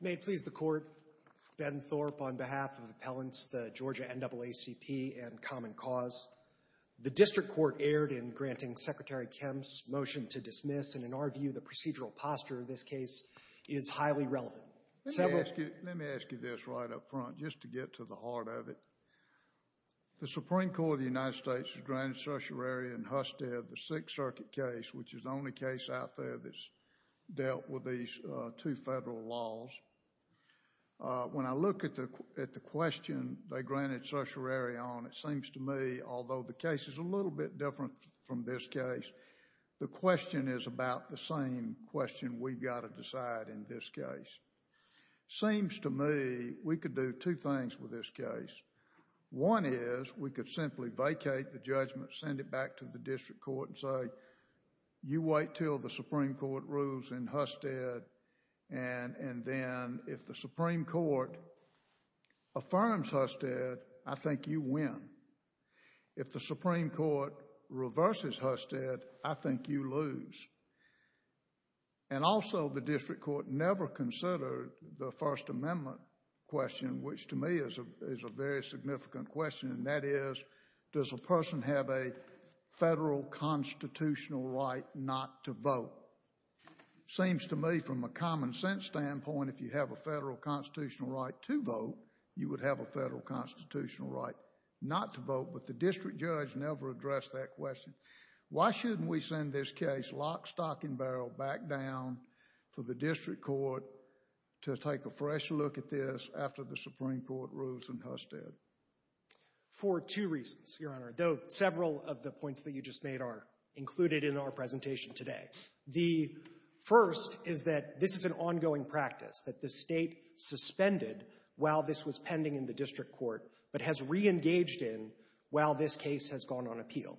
May it please the Court, Ben Thorpe on behalf of Appellants, the Georgia NAACP, and Common Cause. The District Court erred in granting Secretary Kemp's motion to dismiss, and in our view the procedural posture of this case is highly relevant. Let me ask you this right up front, just to get to the heart of it. The Supreme Court of the United States has granted certiorari in Husted the Sixth Circuit case, which is the only case out there that's dealt with these two federal laws. When I look at the question they granted certiorari on, it seems to me, although the case is a the same question we've got to decide in this case. Seems to me we could do two things with this case. One is we could simply vacate the judgment, send it back to the District Court and say, you wait until the Supreme Court rules in Husted, and then if the Supreme Court affirms Husted, I think you win. If the Supreme Court reverses Husted, I think you lose. And also the District Court never considered the First Amendment question, which to me is a very significant question, and that is, does a person have a federal constitutional right not to vote? Seems to me from a common sense standpoint, if you have a federal constitutional right to vote, you would have a federal constitutional right not to vote, but the District Judge never addressed that question. Why shouldn't we send this case lock, stock, and barrel back down for the District Court to take a fresh look at this after the Supreme Court rules in Husted? For two reasons, Your Honor, though several of the points that you just made are included in our presentation today. The first is that this is an ongoing practice, that the State suspended while this was pending in the District Court, but has reengaged in while this case has gone on appeal.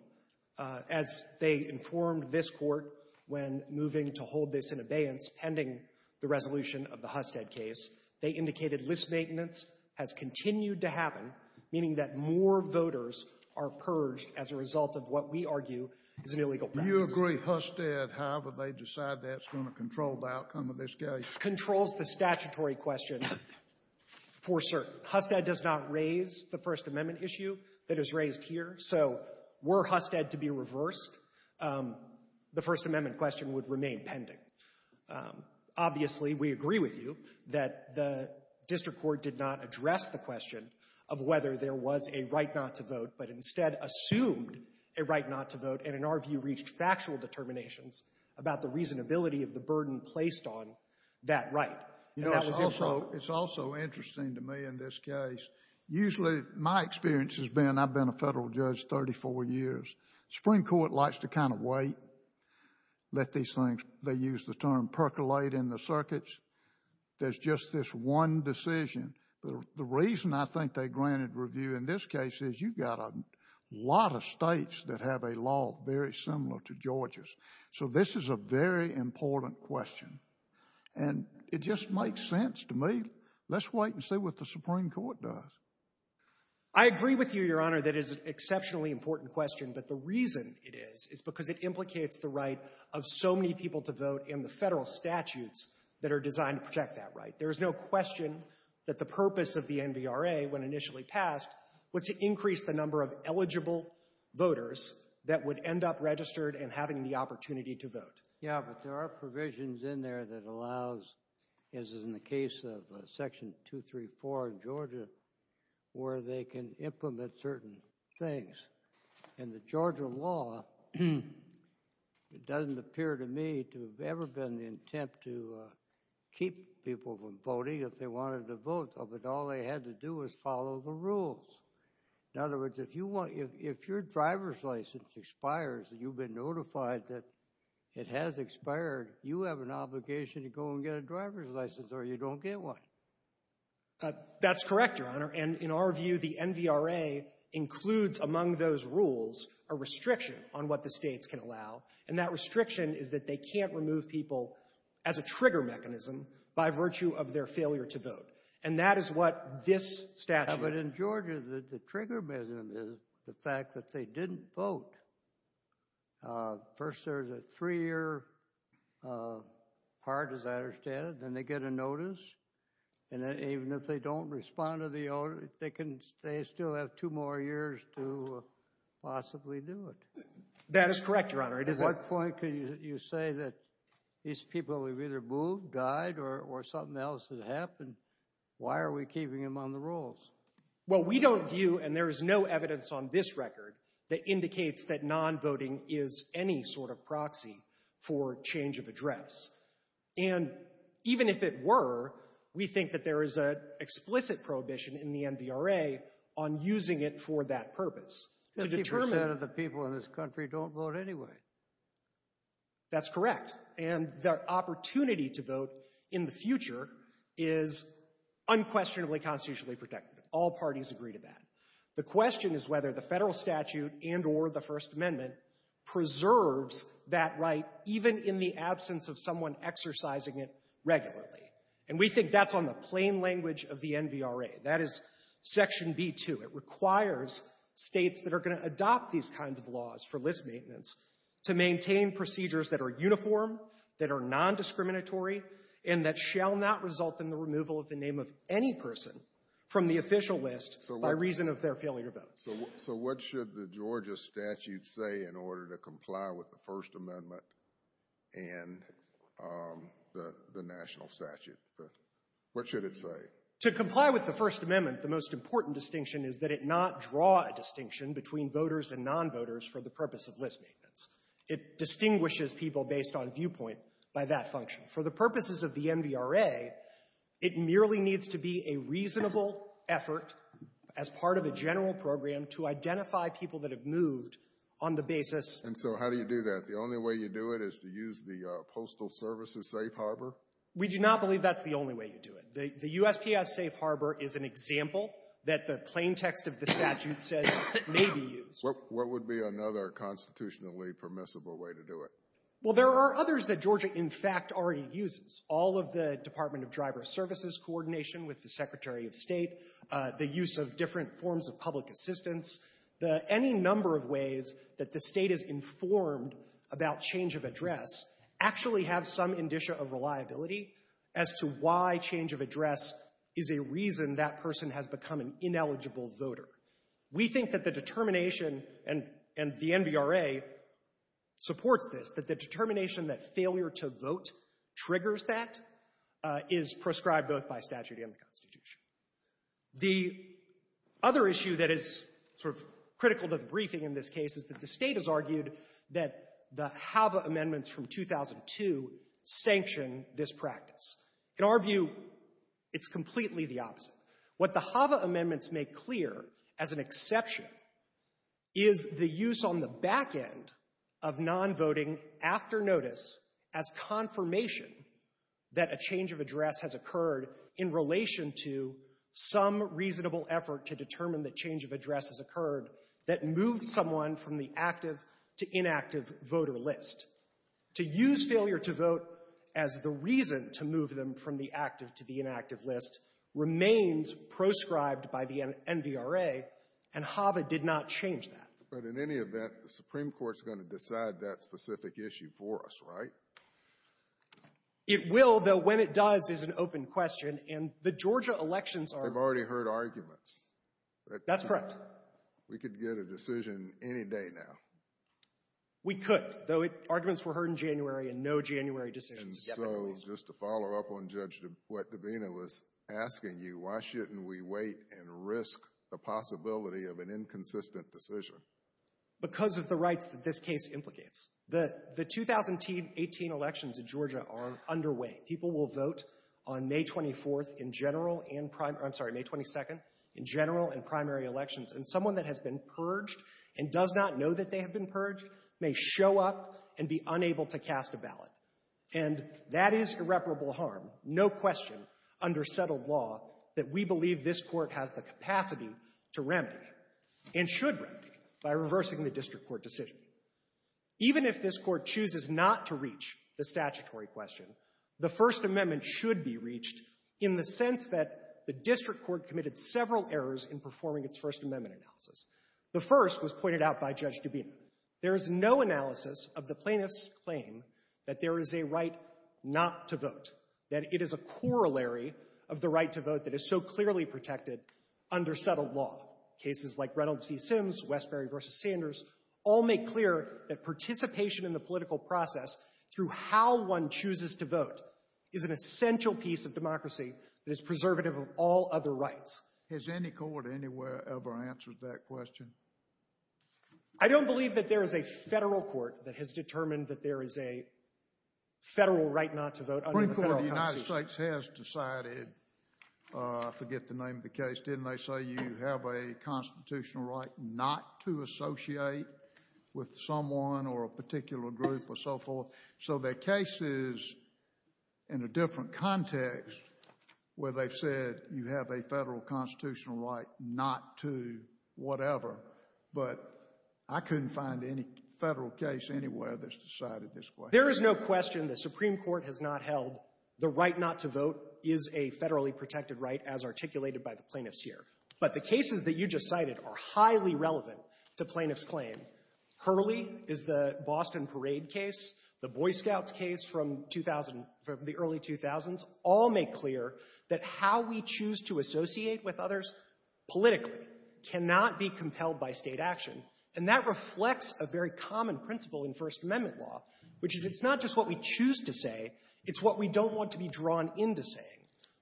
As they informed this Court when moving to hold this in abeyance pending the resolution of the Husted case, they indicated list maintenance has continued to happen, meaning that more voters are purged as a result of what we argue is an illegal practice. Do you agree Husted, however, they decide that's going to control the outcome of this case? Controls the statutory question for certain. Husted does not raise the First Amendment issue that is raised here, so were Husted to be reversed, the First Amendment question would remain pending. Obviously, we agree with you that the District Court did not address the question of whether there was a right not to vote, but instead assumed a right not to vote, and in our view reached factual determinations about the reasonability of the burden placed on that right. You know, it's also interesting to me in this case, usually my experience has been, I've been a federal judge 34 years, the Supreme Court likes to kind of wait, let these things, they use the term, percolate in the circuits, there's just this one decision. The reason I think they granted review in this case is you've got a lot of States that have a law very similar to Georgia's, so this is a very important question, and it just makes sense to me, let's wait and see what the Supreme Court does. I agree with you, Your Honor, that it is an exceptionally important question, but the reason it is, is because it implicates the right of so many people to vote in the federal statutes that are designed to protect that right. There is no question that the purpose of the NVRA, when initially passed, was to increase the number of eligible voters that would end up registered and having the opportunity to vote. Yeah, but there are provisions in there that allows, as in the case of Section 234 in Georgia, where they can implement certain things, and the Georgia law, it doesn't appear to me to have ever been the attempt to keep people from voting if they wanted to vote, but all they had to do was follow the rules. In other words, if your driver's license expires and you've been notified that it has expired, you have an obligation to go and get a driver's license or you don't get one. That's correct, Your Honor, and in our view, the NVRA includes, among those rules, a restriction on what the States can allow, and that restriction is that they can't remove people as a trigger mechanism by virtue of their failure to vote, and that is what this statute... But in Georgia, the trigger mechanism is the fact that they didn't vote. First, there's a three-year part, as I understand it, then they get a notice, and then even if they don't respond to the notice, they still have two more years to possibly do it. That is correct, Your Honor. At what point can you say that these people have either moved, died, or something else has happened? Why are we keeping them on the rolls? Well, we don't view, and there is no evidence on this record that indicates that non-voting is any sort of proxy for change of address, and even if it were, we think that there is an explicit prohibition in the NVRA on using it for that purpose. Fifty percent of the people in this country don't vote anyway. That's correct, and the opportunity to vote in the future is unquestionably constitutionally protected. All parties agree to that. The question is whether the federal statute and or the First Amendment preserves that right even in the absence of someone exercising it regularly, and we think that's on the plain language of the NVRA. That is Section B-2. It requires states that are going to adopt these kinds of laws for list maintenance to maintain procedures that are uniform, that are non-discriminatory, and that shall not result in the removal of the name of any person from the official list by reason of their failure to vote. So what should the Georgia statute say in order to comply with the First Amendment and the national statute? What should it say? To comply with the First Amendment, the most important distinction is that it not draw a distinction between voters and nonvoters for the purpose of list maintenance. It distinguishes people based on viewpoint by that function. For the purposes of the NVRA, it merely needs to be a reasonable effort as part of a general program to identify people that have moved on the basis of the national statute. And so how do you do that? The only way you do it is to use the Postal Service as safe harbor? We do not believe that's the only way you do it. The USPS safe harbor is an example that the plain text of the statute says may be used. What would be another constitutionally permissible way to do it? Well, there are others that Georgia, in fact, already uses. All of the Department of Driver Services coordination with the Secretary of State, the use of different forms of public assistance, the any number of ways that the State is informed about change of address actually have some indicia of reliability as to why change of address is a reason that person has become an ineligible voter. We think that the determination, and the NVRA supports this, that the determination that failure to vote triggers that is prescribed both by statute and the Constitution. The other issue that is sort of critical to the briefing in this case is that the State has argued that the HAVA amendments from 2002 sanction this practice. In our view, it's completely the opposite. What the HAVA amendments make clear as an exception is the use on the back end of non-voting after notice as confirmation that a change of address has occurred in relation to some reasonable effort to determine that change of address has occurred that moved someone from the active to inactive voter list. To use failure to vote as the reason to move them from the active to the inactive list remains proscribed by the NVRA, and HAVA did not change that. But in any event, the Supreme Court is going to decide that specific issue for us, right? It will, though when it does is an open question, and the Georgia elections are — They've already heard arguments. That's correct. We could get a decision any day now. We could, though arguments were heard in January and no January decisions have yet been released. And so, just to follow up on what Judge Dabena was asking you, why shouldn't we wait and risk the possibility of an inconsistent decision? Because of the rights that this case implicates. The 2018 elections in Georgia are underway. People will vote on May 24th in general and — I'm sorry, May 22nd — in general and someone that has been purged and does not know that they have been purged may show up and be unable to cast a ballot. And that is irreparable harm, no question, under settled law that we believe this Court has the capacity to remedy and should remedy by reversing the district court decision. Even if this Court chooses not to reach the statutory question, the First Amendment should be reached in the sense that the district court committed several errors in performing its First Amendment analysis. The first was pointed out by Judge Dabena. There is no analysis of the plaintiff's claim that there is a right not to vote, that it is a corollary of the right to vote that is so clearly protected under settled law. Cases like Reynolds v. Sims, Westbury v. Sanders all make clear that participation in the political process through how one chooses to vote is an essential piece of democracy that is preservative of all other rights. Has any court anywhere ever answered that question? I don't believe that there is a federal court that has determined that there is a federal right not to vote under the federal constitution. The Supreme Court of the United States has decided — I forget the name of the case, didn't they — say you have a constitutional right not to associate with someone or a particular group or so forth. So there are cases in a different context where they've said you have a federal constitutional right not to whatever. But I couldn't find any federal case anywhere that's decided this way. There is no question the Supreme Court has not held the right not to vote is a federally protected right as articulated by the plaintiffs here. But the cases that you just cited are highly relevant to plaintiffs' claim. Hurley is the Boston Parade case, the Boy Scouts case from 2000 — from the early 2000s all make clear that how we choose to associate with others politically cannot be compelled by State action. And that reflects a very common principle in First Amendment law, which is it's not just what we choose to say. It's what we don't want to be drawn into saying.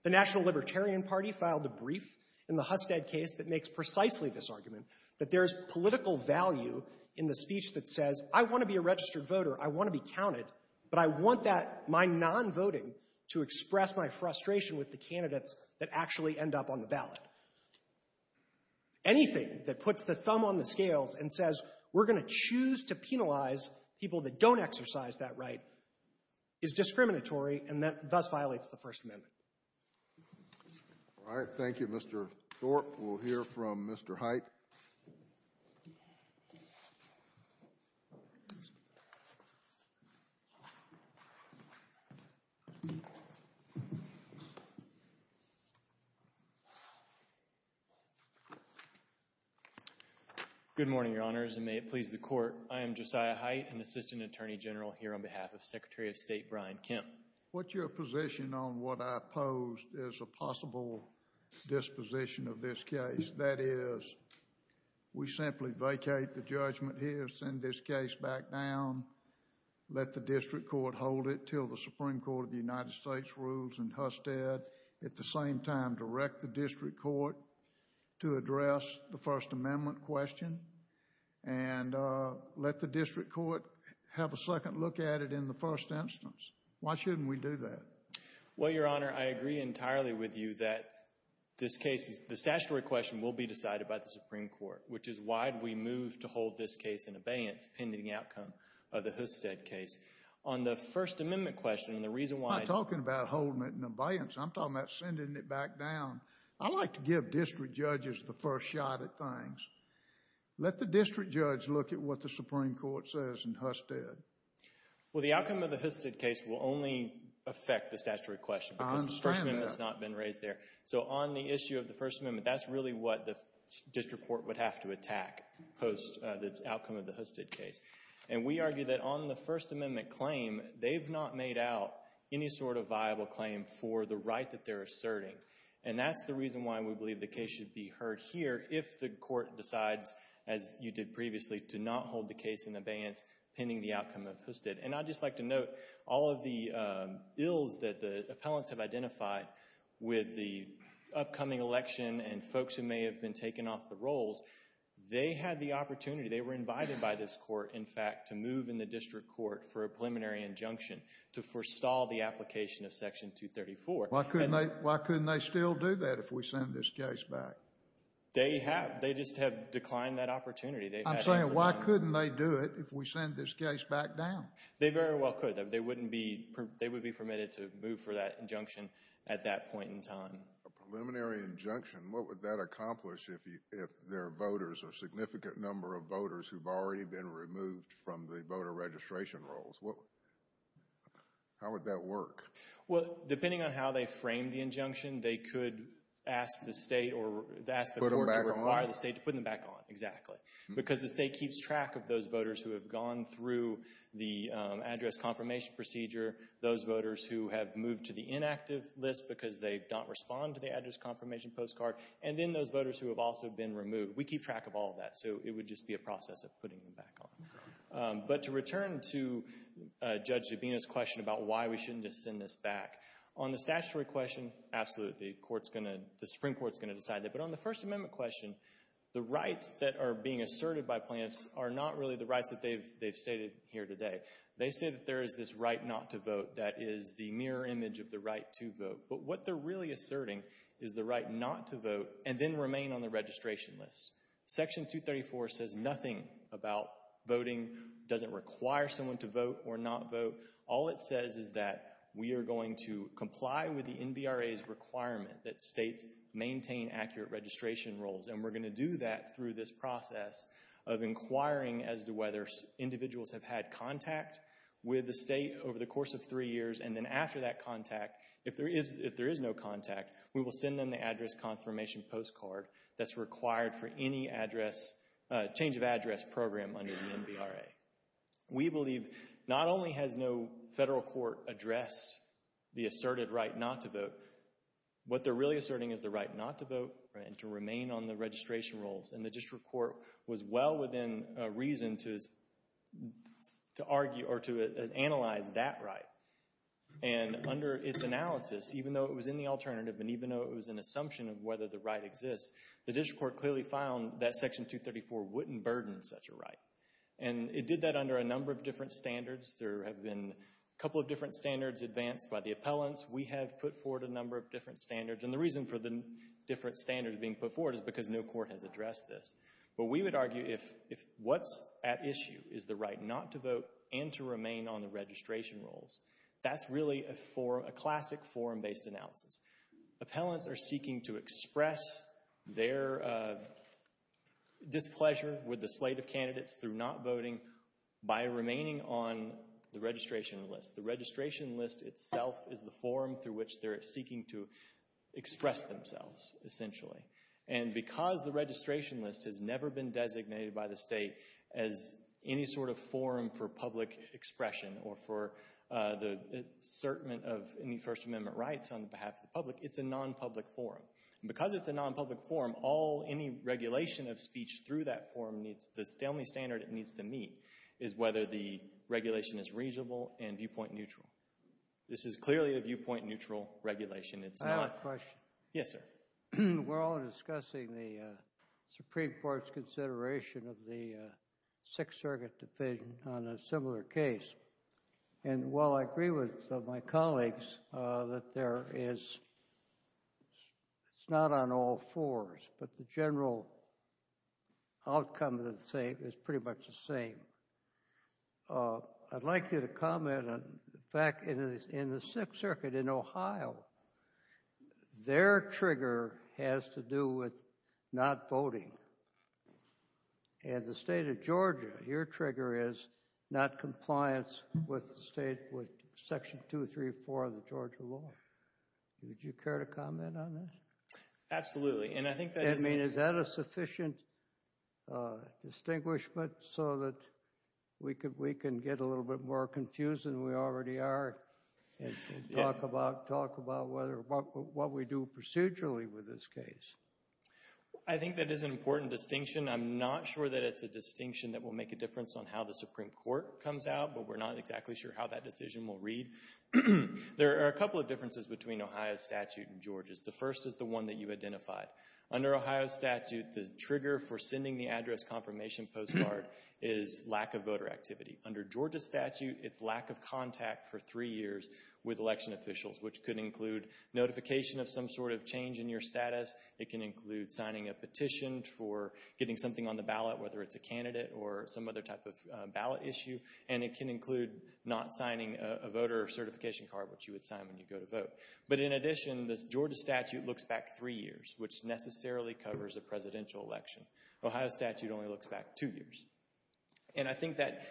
The National Libertarian Party filed a brief in the Husted case that makes precisely this argument, that there's political value in the speech that says, I want to be a registered voter. I want to be counted. But I want that — my non-voting to express my frustration with the candidates that actually end up on the ballot. Anything that puts the thumb on the scales and says we're going to choose to penalize people that don't exercise that right is discriminatory, and that thus violates the First Amendment. All right. Thank you, Mr. Thorpe. We'll hear from Mr. Hite. Good morning, Your Honors, and may it please the Court. I am Josiah Hite, an assistant attorney general here on behalf of Secretary of State Brian Kemp. What's your position on what I posed as a possible disposition of this case? That is, we simply vacate the judgment here, send this case back down, let the district court hold it until the Supreme Court of the United States rules in Husted, at the same time direct the district court to address the First Amendment question, and let the district court have a second look at it in the first instance. Why shouldn't we do that? Well, Your Honor, I agree entirely with you that this case, the statutory question will be decided by the Supreme Court, which is why do we move to hold this case in abeyance, pending outcome of the Husted case? On the First Amendment question, the reason why— I'm not talking about holding it in abeyance. I'm talking about sending it back down. I like to give district judges the first shot at things. Let the district judge look at what the Supreme Court says in Husted. Well, the outcome of the Husted case will only affect the statutory question because the First Amendment has not been raised there. So on the issue of the First Amendment, that's really what the district court would have to attack post the outcome of the Husted case. And we argue that on the First Amendment claim, they've not made out any sort of viable claim for the right that they're asserting. And that's the reason why we believe the case should be heard here if the court decides, as you did previously, to not hold the case in abeyance pending the outcome of Husted. And I'd just like to note, all of the bills that the appellants have identified with the upcoming election and folks who may have been taken off the rolls, they had the opportunity, they were invited by this court, in fact, to move in the district court for a preliminary injunction to forestall the application of Section 234. Why couldn't they still do that if we send this case back? They have. They just have declined that opportunity. I'm saying why couldn't they do it if we send this case back down? They very well could. They wouldn't be, they would be permitted to move for that injunction at that point in time. A preliminary injunction, what would that accomplish if there are voters, a significant number of voters who've already been removed from the voter registration rolls? How would that work? Well, depending on how they frame the injunction, they could ask the state or ask the court to require the state to put them back on. Exactly. Because the state keeps track of those voters who have gone through the address confirmation procedure, those voters who have moved to the inactive list because they don't respond to the address confirmation postcard, and then those voters who have also been removed. We keep track of all that. So it would just be a process of putting them back on. But to return to Judge Zubino's question about why we shouldn't just send this back, on the statutory question, absolutely, the Supreme Court's going to decide that. But on the First Amendment question, the rights that are being asserted by Plaintiffs are not really the rights that they've stated here today. They say that there is this right not to vote that is the mirror image of the right to vote. But what they're really asserting is the right not to vote and then remain on the registration list. Section 234 says nothing about voting, doesn't require someone to vote or not vote. All it says is that we are going to comply with the NBRA's requirement that states maintain accurate registration roles. And we're going to do that through this process of inquiring as to whether individuals have had contact with the state over the course of three years. And then after that contact, if there is no contact, we will send them the address confirmation postcard that's required for any address, change of address program under the NBRA. We believe not only has no federal court addressed the asserted right not to vote, what they're really asserting is the right not to vote and to remain on the registration roles. And the district court was well within reason to argue or to analyze that right. And under its analysis, even though it was in the alternative and even though it was an issue of whether the right exists, the district court clearly found that Section 234 wouldn't burden such a right. And it did that under a number of different standards. There have been a couple of different standards advanced by the appellants. We have put forward a number of different standards. And the reason for the different standards being put forward is because no court has addressed this. But we would argue if what's at issue is the right not to vote and to remain on the registration roles, that's really a classic forum-based analysis. Appellants are seeking to express their displeasure with the slate of candidates through not voting by remaining on the registration list. The registration list itself is the forum through which they're seeking to express themselves, essentially. And because the registration list has never been designated by the state as any sort of forum for public expression or for the assertment of any First Amendment rights on behalf of the public, it's a non-public forum. And because it's a non-public forum, any regulation of speech through that forum, the only standard it needs to meet is whether the regulation is reasonable and viewpoint neutral. This is clearly a viewpoint neutral regulation. It's not— I have a question. Yes, sir. We're all discussing the Supreme Court's consideration of the Sixth Circuit decision on a similar case. And while I agree with some of my colleagues that there is—it's not on all fours, but the general outcome is pretty much the same. I'd like you to comment on the fact in the Sixth Circuit in Ohio, their trigger has to do with not voting. And the state of Georgia, your trigger is not compliance with the state—with Section 234 of the Georgia law. Would you care to comment on that? Absolutely. And I think that's— I mean, is that a sufficient distinguishment so that we can get a little bit more confused than we already are and talk about what we do procedurally with this case? I think that is an important distinction. I'm not sure that it's a distinction that will make a difference on how the Supreme Court comes out, but we're not exactly sure how that decision will read. There are a couple of differences between Ohio's statute and Georgia's. The first is the one that you identified. Under Ohio's statute, the trigger for sending the address confirmation postcard is lack of voter activity. Under Georgia's statute, it's lack of contact for three years with election officials, which could include notification of some sort of change in your status. It can include signing a petition for getting something on the ballot, whether it's a candidate or some other type of ballot issue. And it can include not signing a voter certification card, which you would sign when you go to vote. But in addition, the Georgia statute looks back three years, which necessarily covers a presidential election. Ohio's statute only looks back two years. And I think that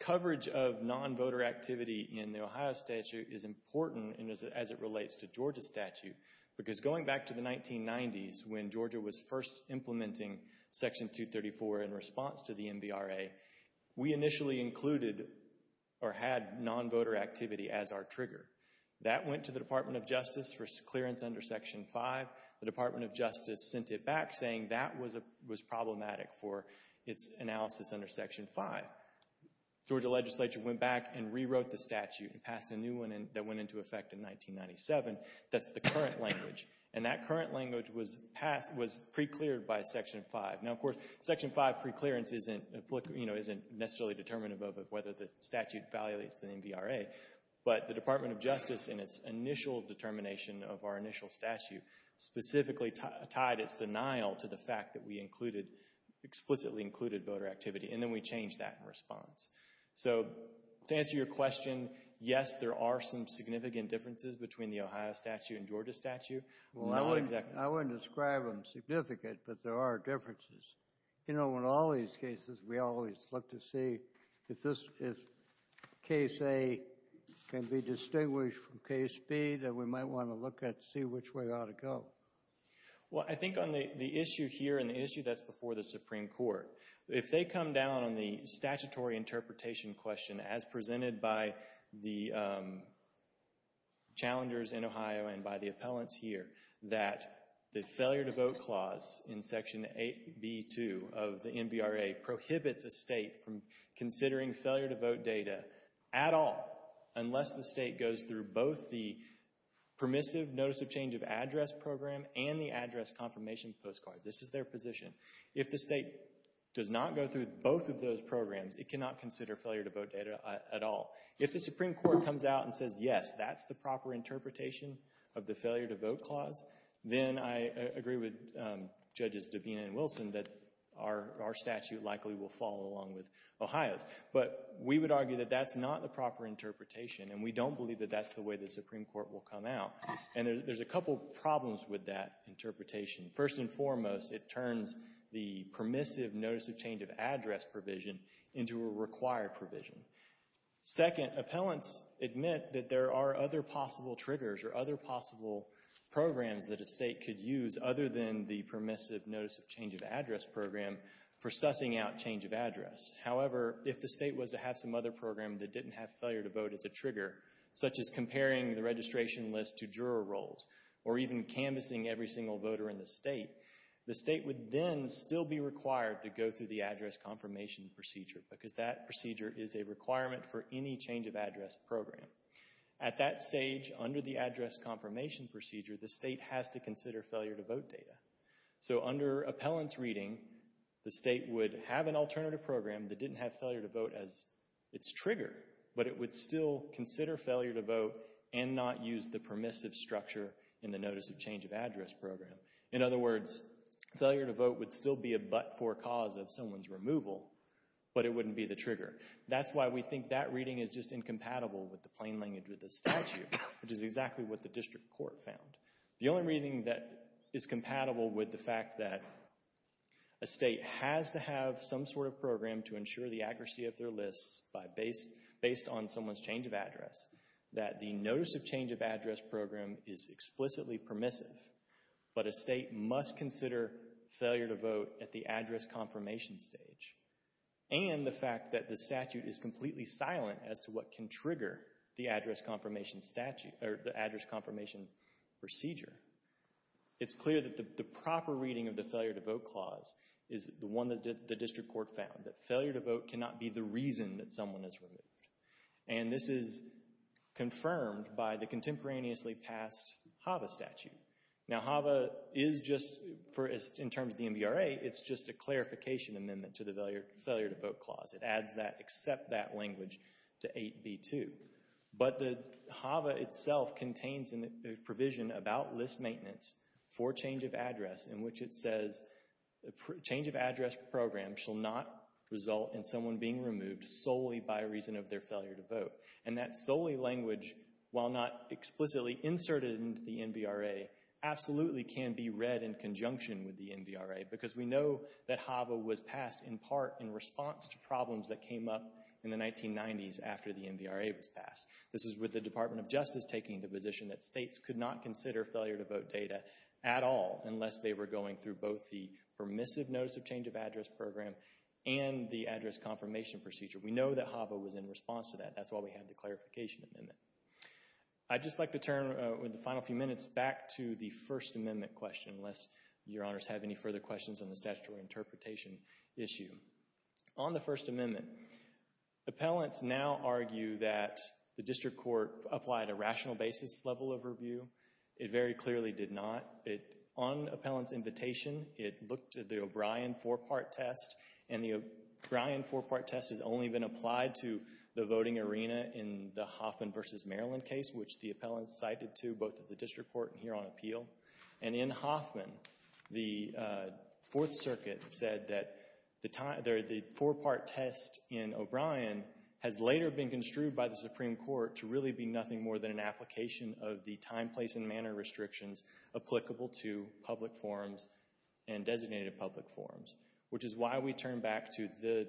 coverage of non-voter activity in the Ohio statute is important as it relates to Georgia's statute. Because going back to the 1990s, when Georgia was first implementing Section 234 in response to the MVRA, we initially included or had non-voter activity as our trigger. That went to the Department of Justice for clearance under Section 5. The Department of Justice sent it back saying that was problematic for its analysis under Section 5. Georgia legislature went back and rewrote the statute and passed a new one that went into effect in 1997. That's the current language. And that current language was pre-cleared by Section 5. Now, of course, Section 5 pre-clearance isn't necessarily determinative of whether the statute evaluates the MVRA. But the Department of Justice, in its initial determination of our initial statute, specifically tied its denial to the fact that we explicitly included voter activity. And then we changed that in response. So to answer your question, yes, there are some significant differences between the Ohio statute and Georgia statute. Well, I wouldn't describe them significant, but there are differences. You know, in all these cases, we always look to see if case A can be distinguished from case B, then we might want to look at see which way it ought to go. Well, I think on the issue here and the issue that's before the Supreme Court, if they come down on the statutory interpretation question, as presented by the challengers in Ohio and by the appellants here, that the failure to vote clause in Section 8B.2 of the MVRA prohibits a state from considering failure to vote data at all unless the state goes through both the permissive notice of change of address program and the address confirmation postcard. This is their position. If the state does not go through both of those programs, it cannot consider failure to vote data at all. If the Supreme Court comes out and says, yes, that's the proper interpretation of the failure to vote clause, then I agree with Judges Dabena and Wilson that our statute likely will fall along with Ohio's. But we would argue that that's not the proper interpretation, and we don't believe that that's the way the Supreme Court will come out. And there's a couple problems with that interpretation. First and foremost, it turns the permissive notice of change of address provision into a required provision. Second, appellants admit that there are other possible triggers or other possible programs that a state could use other than the permissive notice of change of address program for sussing out change of address. However, if the state was to have some other program that didn't have failure to vote as a trigger, such as comparing the registration list to juror rolls or even canvassing every single voter in the state, the state would then still be required to go through the address confirmation procedure, because that procedure is a requirement for any change of address program. At that stage, under the address confirmation procedure, the state has to consider failure to vote data. So under appellant's reading, the state would have an alternative program that didn't have failure to vote as its trigger, but it would still consider failure to vote and not use the permissive structure in the notice of change of address program. In other words, failure to vote would still be a but-for cause of someone's removal, but it wouldn't be the trigger. That's why we think that reading is just incompatible with the plain language of the statute, which is exactly what the district court found. The only reading that is compatible with the fact that a state has to have some sort of program to ensure the accuracy of their lists based on someone's change of address, that the notice of change of address program is explicitly permissive, but a state must consider failure to vote at the address confirmation stage, and the fact that the statute is completely silent as to what can trigger the address confirmation statute, or the address confirmation procedure. It's clear that the proper reading of the failure to vote clause is the one that the district court found, that failure to vote cannot be the reason that someone is removed. And this is confirmed by the contemporaneously passed HAVA statute. Now, HAVA is just, in terms of the MVRA, it's just a clarification amendment to the failure to vote clause. It adds that, except that language, to 8b2. But the HAVA itself contains a provision about list maintenance for change of address in which it says, change of address program shall not result in someone being removed solely by reason of their failure to vote. And that solely language, while not explicitly inserted into the MVRA, absolutely can be read in conjunction with the MVRA, because we know that HAVA was passed in part in response to problems that came up in the 1990s after the MVRA was passed. This is with the Department of Justice taking the position that states could not consider failure to vote data at all unless they were going through both the permissive notice of change of address program and the address confirmation procedure. We know that HAVA was in response to that. That's why we have the clarification amendment. I'd just like to turn, with the final few minutes, back to the First Amendment question, unless your honors have any further questions on the statutory interpretation issue. On the First Amendment, appellants now argue that the district court applied a rational basis level of review. It very clearly did not. On appellant's invitation, it looked at the O'Brien four-part test, and the O'Brien four-part test has only been applied to the voting arena in the Hoffman v. Maryland case, which the appellant cited to both at the district court and here on appeal. And in Hoffman, the Fourth Circuit said that the four-part test in O'Brien has later been construed by the Supreme Court to really be nothing more than an application of the time, place, and manner restrictions applicable to public forums and designated public forums, which is why we turn back to the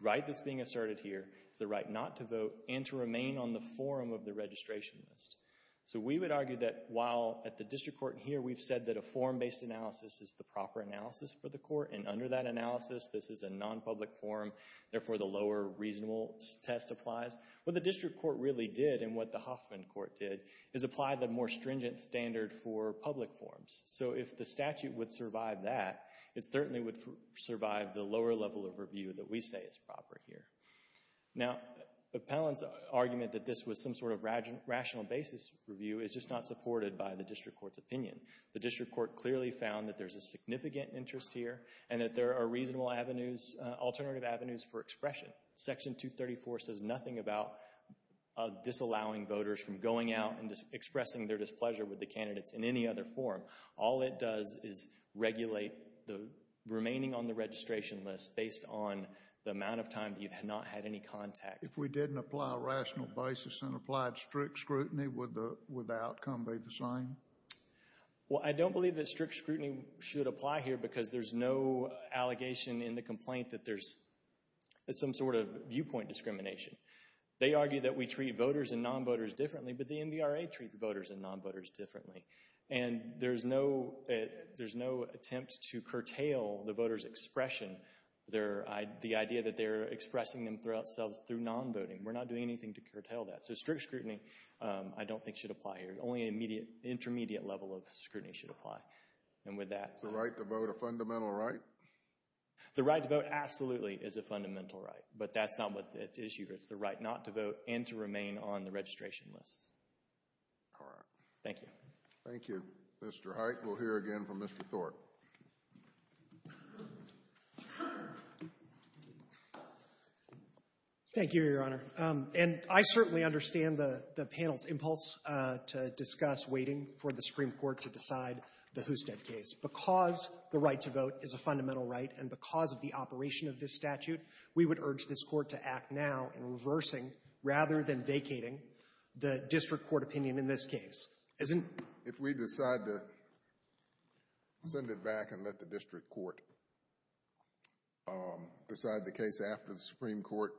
right that's being asserted here. It's the right not to vote and to remain on the forum of the registration list. So we would argue that while at the district court here, we've said that a forum-based analysis is the proper analysis for the court, and under that analysis, this is a non-public forum, therefore the lower reasonable test applies, what the district court really did and what the Hoffman court did is apply the more stringent standard for public forums. So if the statute would survive that, it certainly would survive the lower level of review that we say is proper here. Now, the appellant's argument that this was some sort of rational basis review is just not supported by the district court's opinion. The district court clearly found that there's a significant interest here and that there are reasonable avenues, alternative avenues for expression. Section 234 says nothing about disallowing voters from going out and expressing their All it does is regulate the remaining on the registration list based on the amount of time that you've not had any contact. If we didn't apply a rational basis and applied strict scrutiny, would the outcome be the same? Well, I don't believe that strict scrutiny should apply here because there's no allegation in the complaint that there's some sort of viewpoint discrimination. They argue that we treat voters and non-voters differently, but the NVRA treats voters and non-voters differently. And there's no, there's no attempt to curtail the voter's expression. Their, the idea that they're expressing themselves through non-voting. We're not doing anything to curtail that. So strict scrutiny, I don't think should apply here. Only immediate, intermediate level of scrutiny should apply. And with that. Is the right to vote a fundamental right? The right to vote absolutely is a fundamental right, but that's not what it's issued. It's the right not to vote and to remain on the registration list. All right. Thank you. Thank you, Mr. Hite. We'll hear again from Mr. Thorpe. Thank you, Your Honor. And I certainly understand the panel's impulse to discuss waiting for the Supreme Court to decide the Husted case. Because the right to vote is a fundamental right and because of the operation of this statute, we would urge this Court to act now in reversing rather than vacating the district court opinion in this case. If we decide to send it back and let the district court decide the case after the Supreme Court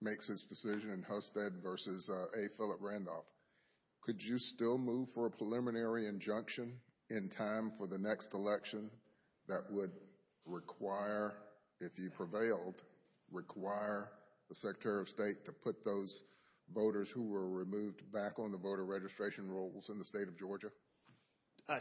makes its decision in Husted versus A. Philip Randolph, could you still move for a preliminary injunction in time for the next election that would require, if you prevailed, require the Secretary of State to those voters who were removed back on the voter registration rolls in the state of Georgia?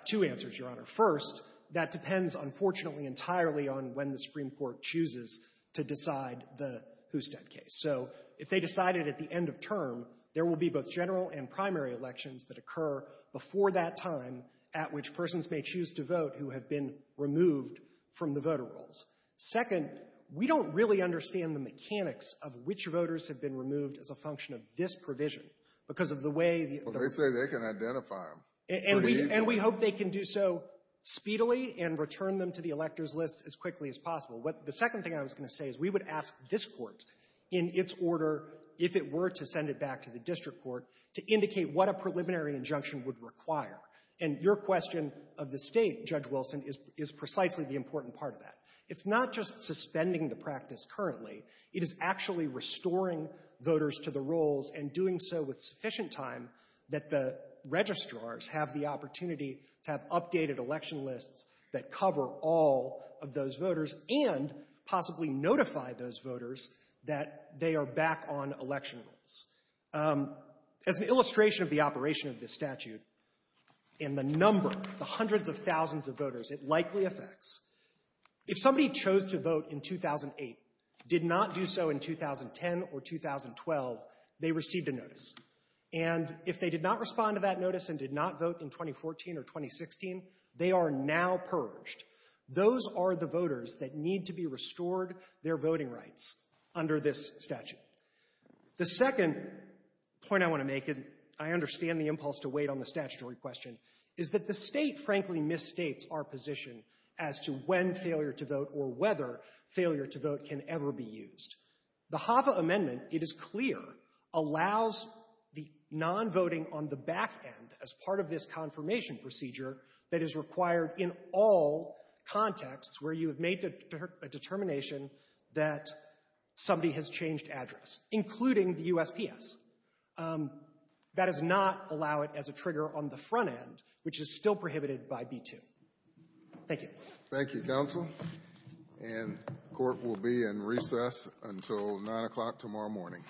Two answers, Your Honor. First, that depends, unfortunately, entirely on when the Supreme Court chooses to decide the Husted case. So if they decided at the end of term, there will be both general and primary elections that occur before that time at which persons may choose to vote who have been removed from the voter rolls. Second, we don't really understand the mechanics of which voters have been removed as a function of this provision because of the way the — Well, they say they can identify them pretty easily. And we hope they can do so speedily and return them to the electors' list as quickly as possible. What the second thing I was going to say is we would ask this Court in its order, if it were to send it back to the district court, to indicate what a preliminary injunction would require. And your question of the State, Judge Wilson, is precisely the important part of that. It's not just suspending the practice currently. It is actually restoring voters to the rolls and doing so with sufficient time that the registrars have the opportunity to have updated election lists that cover all of those voters and possibly notify those voters that they are back on election rolls. As an illustration of the operation of this statute and the number, the hundreds of thousands of voters, it likely affects. If somebody chose to vote in 2008, did not do so in 2010 or 2012, they received a notice. And if they did not respond to that notice and did not vote in 2014 or 2016, they are now purged. Those are the voters that need to be restored their voting rights under this statute. The second point I want to make, and I understand the impulse to wait on the statutory question, is that the State, frankly, misstates our position as to when failure to vote or whether failure to vote can ever be used. The HAVA amendment, it is clear, allows the nonvoting on the back end as part of this confirmation procedure that is required in all contexts where you have made a determination that somebody has changed address, including the USPS. That does not allow it as a trigger on the front end, which is still prohibited by B-2. Thank you. Thank you, counsel. And court will be in recess until 9 o'clock tomorrow morning.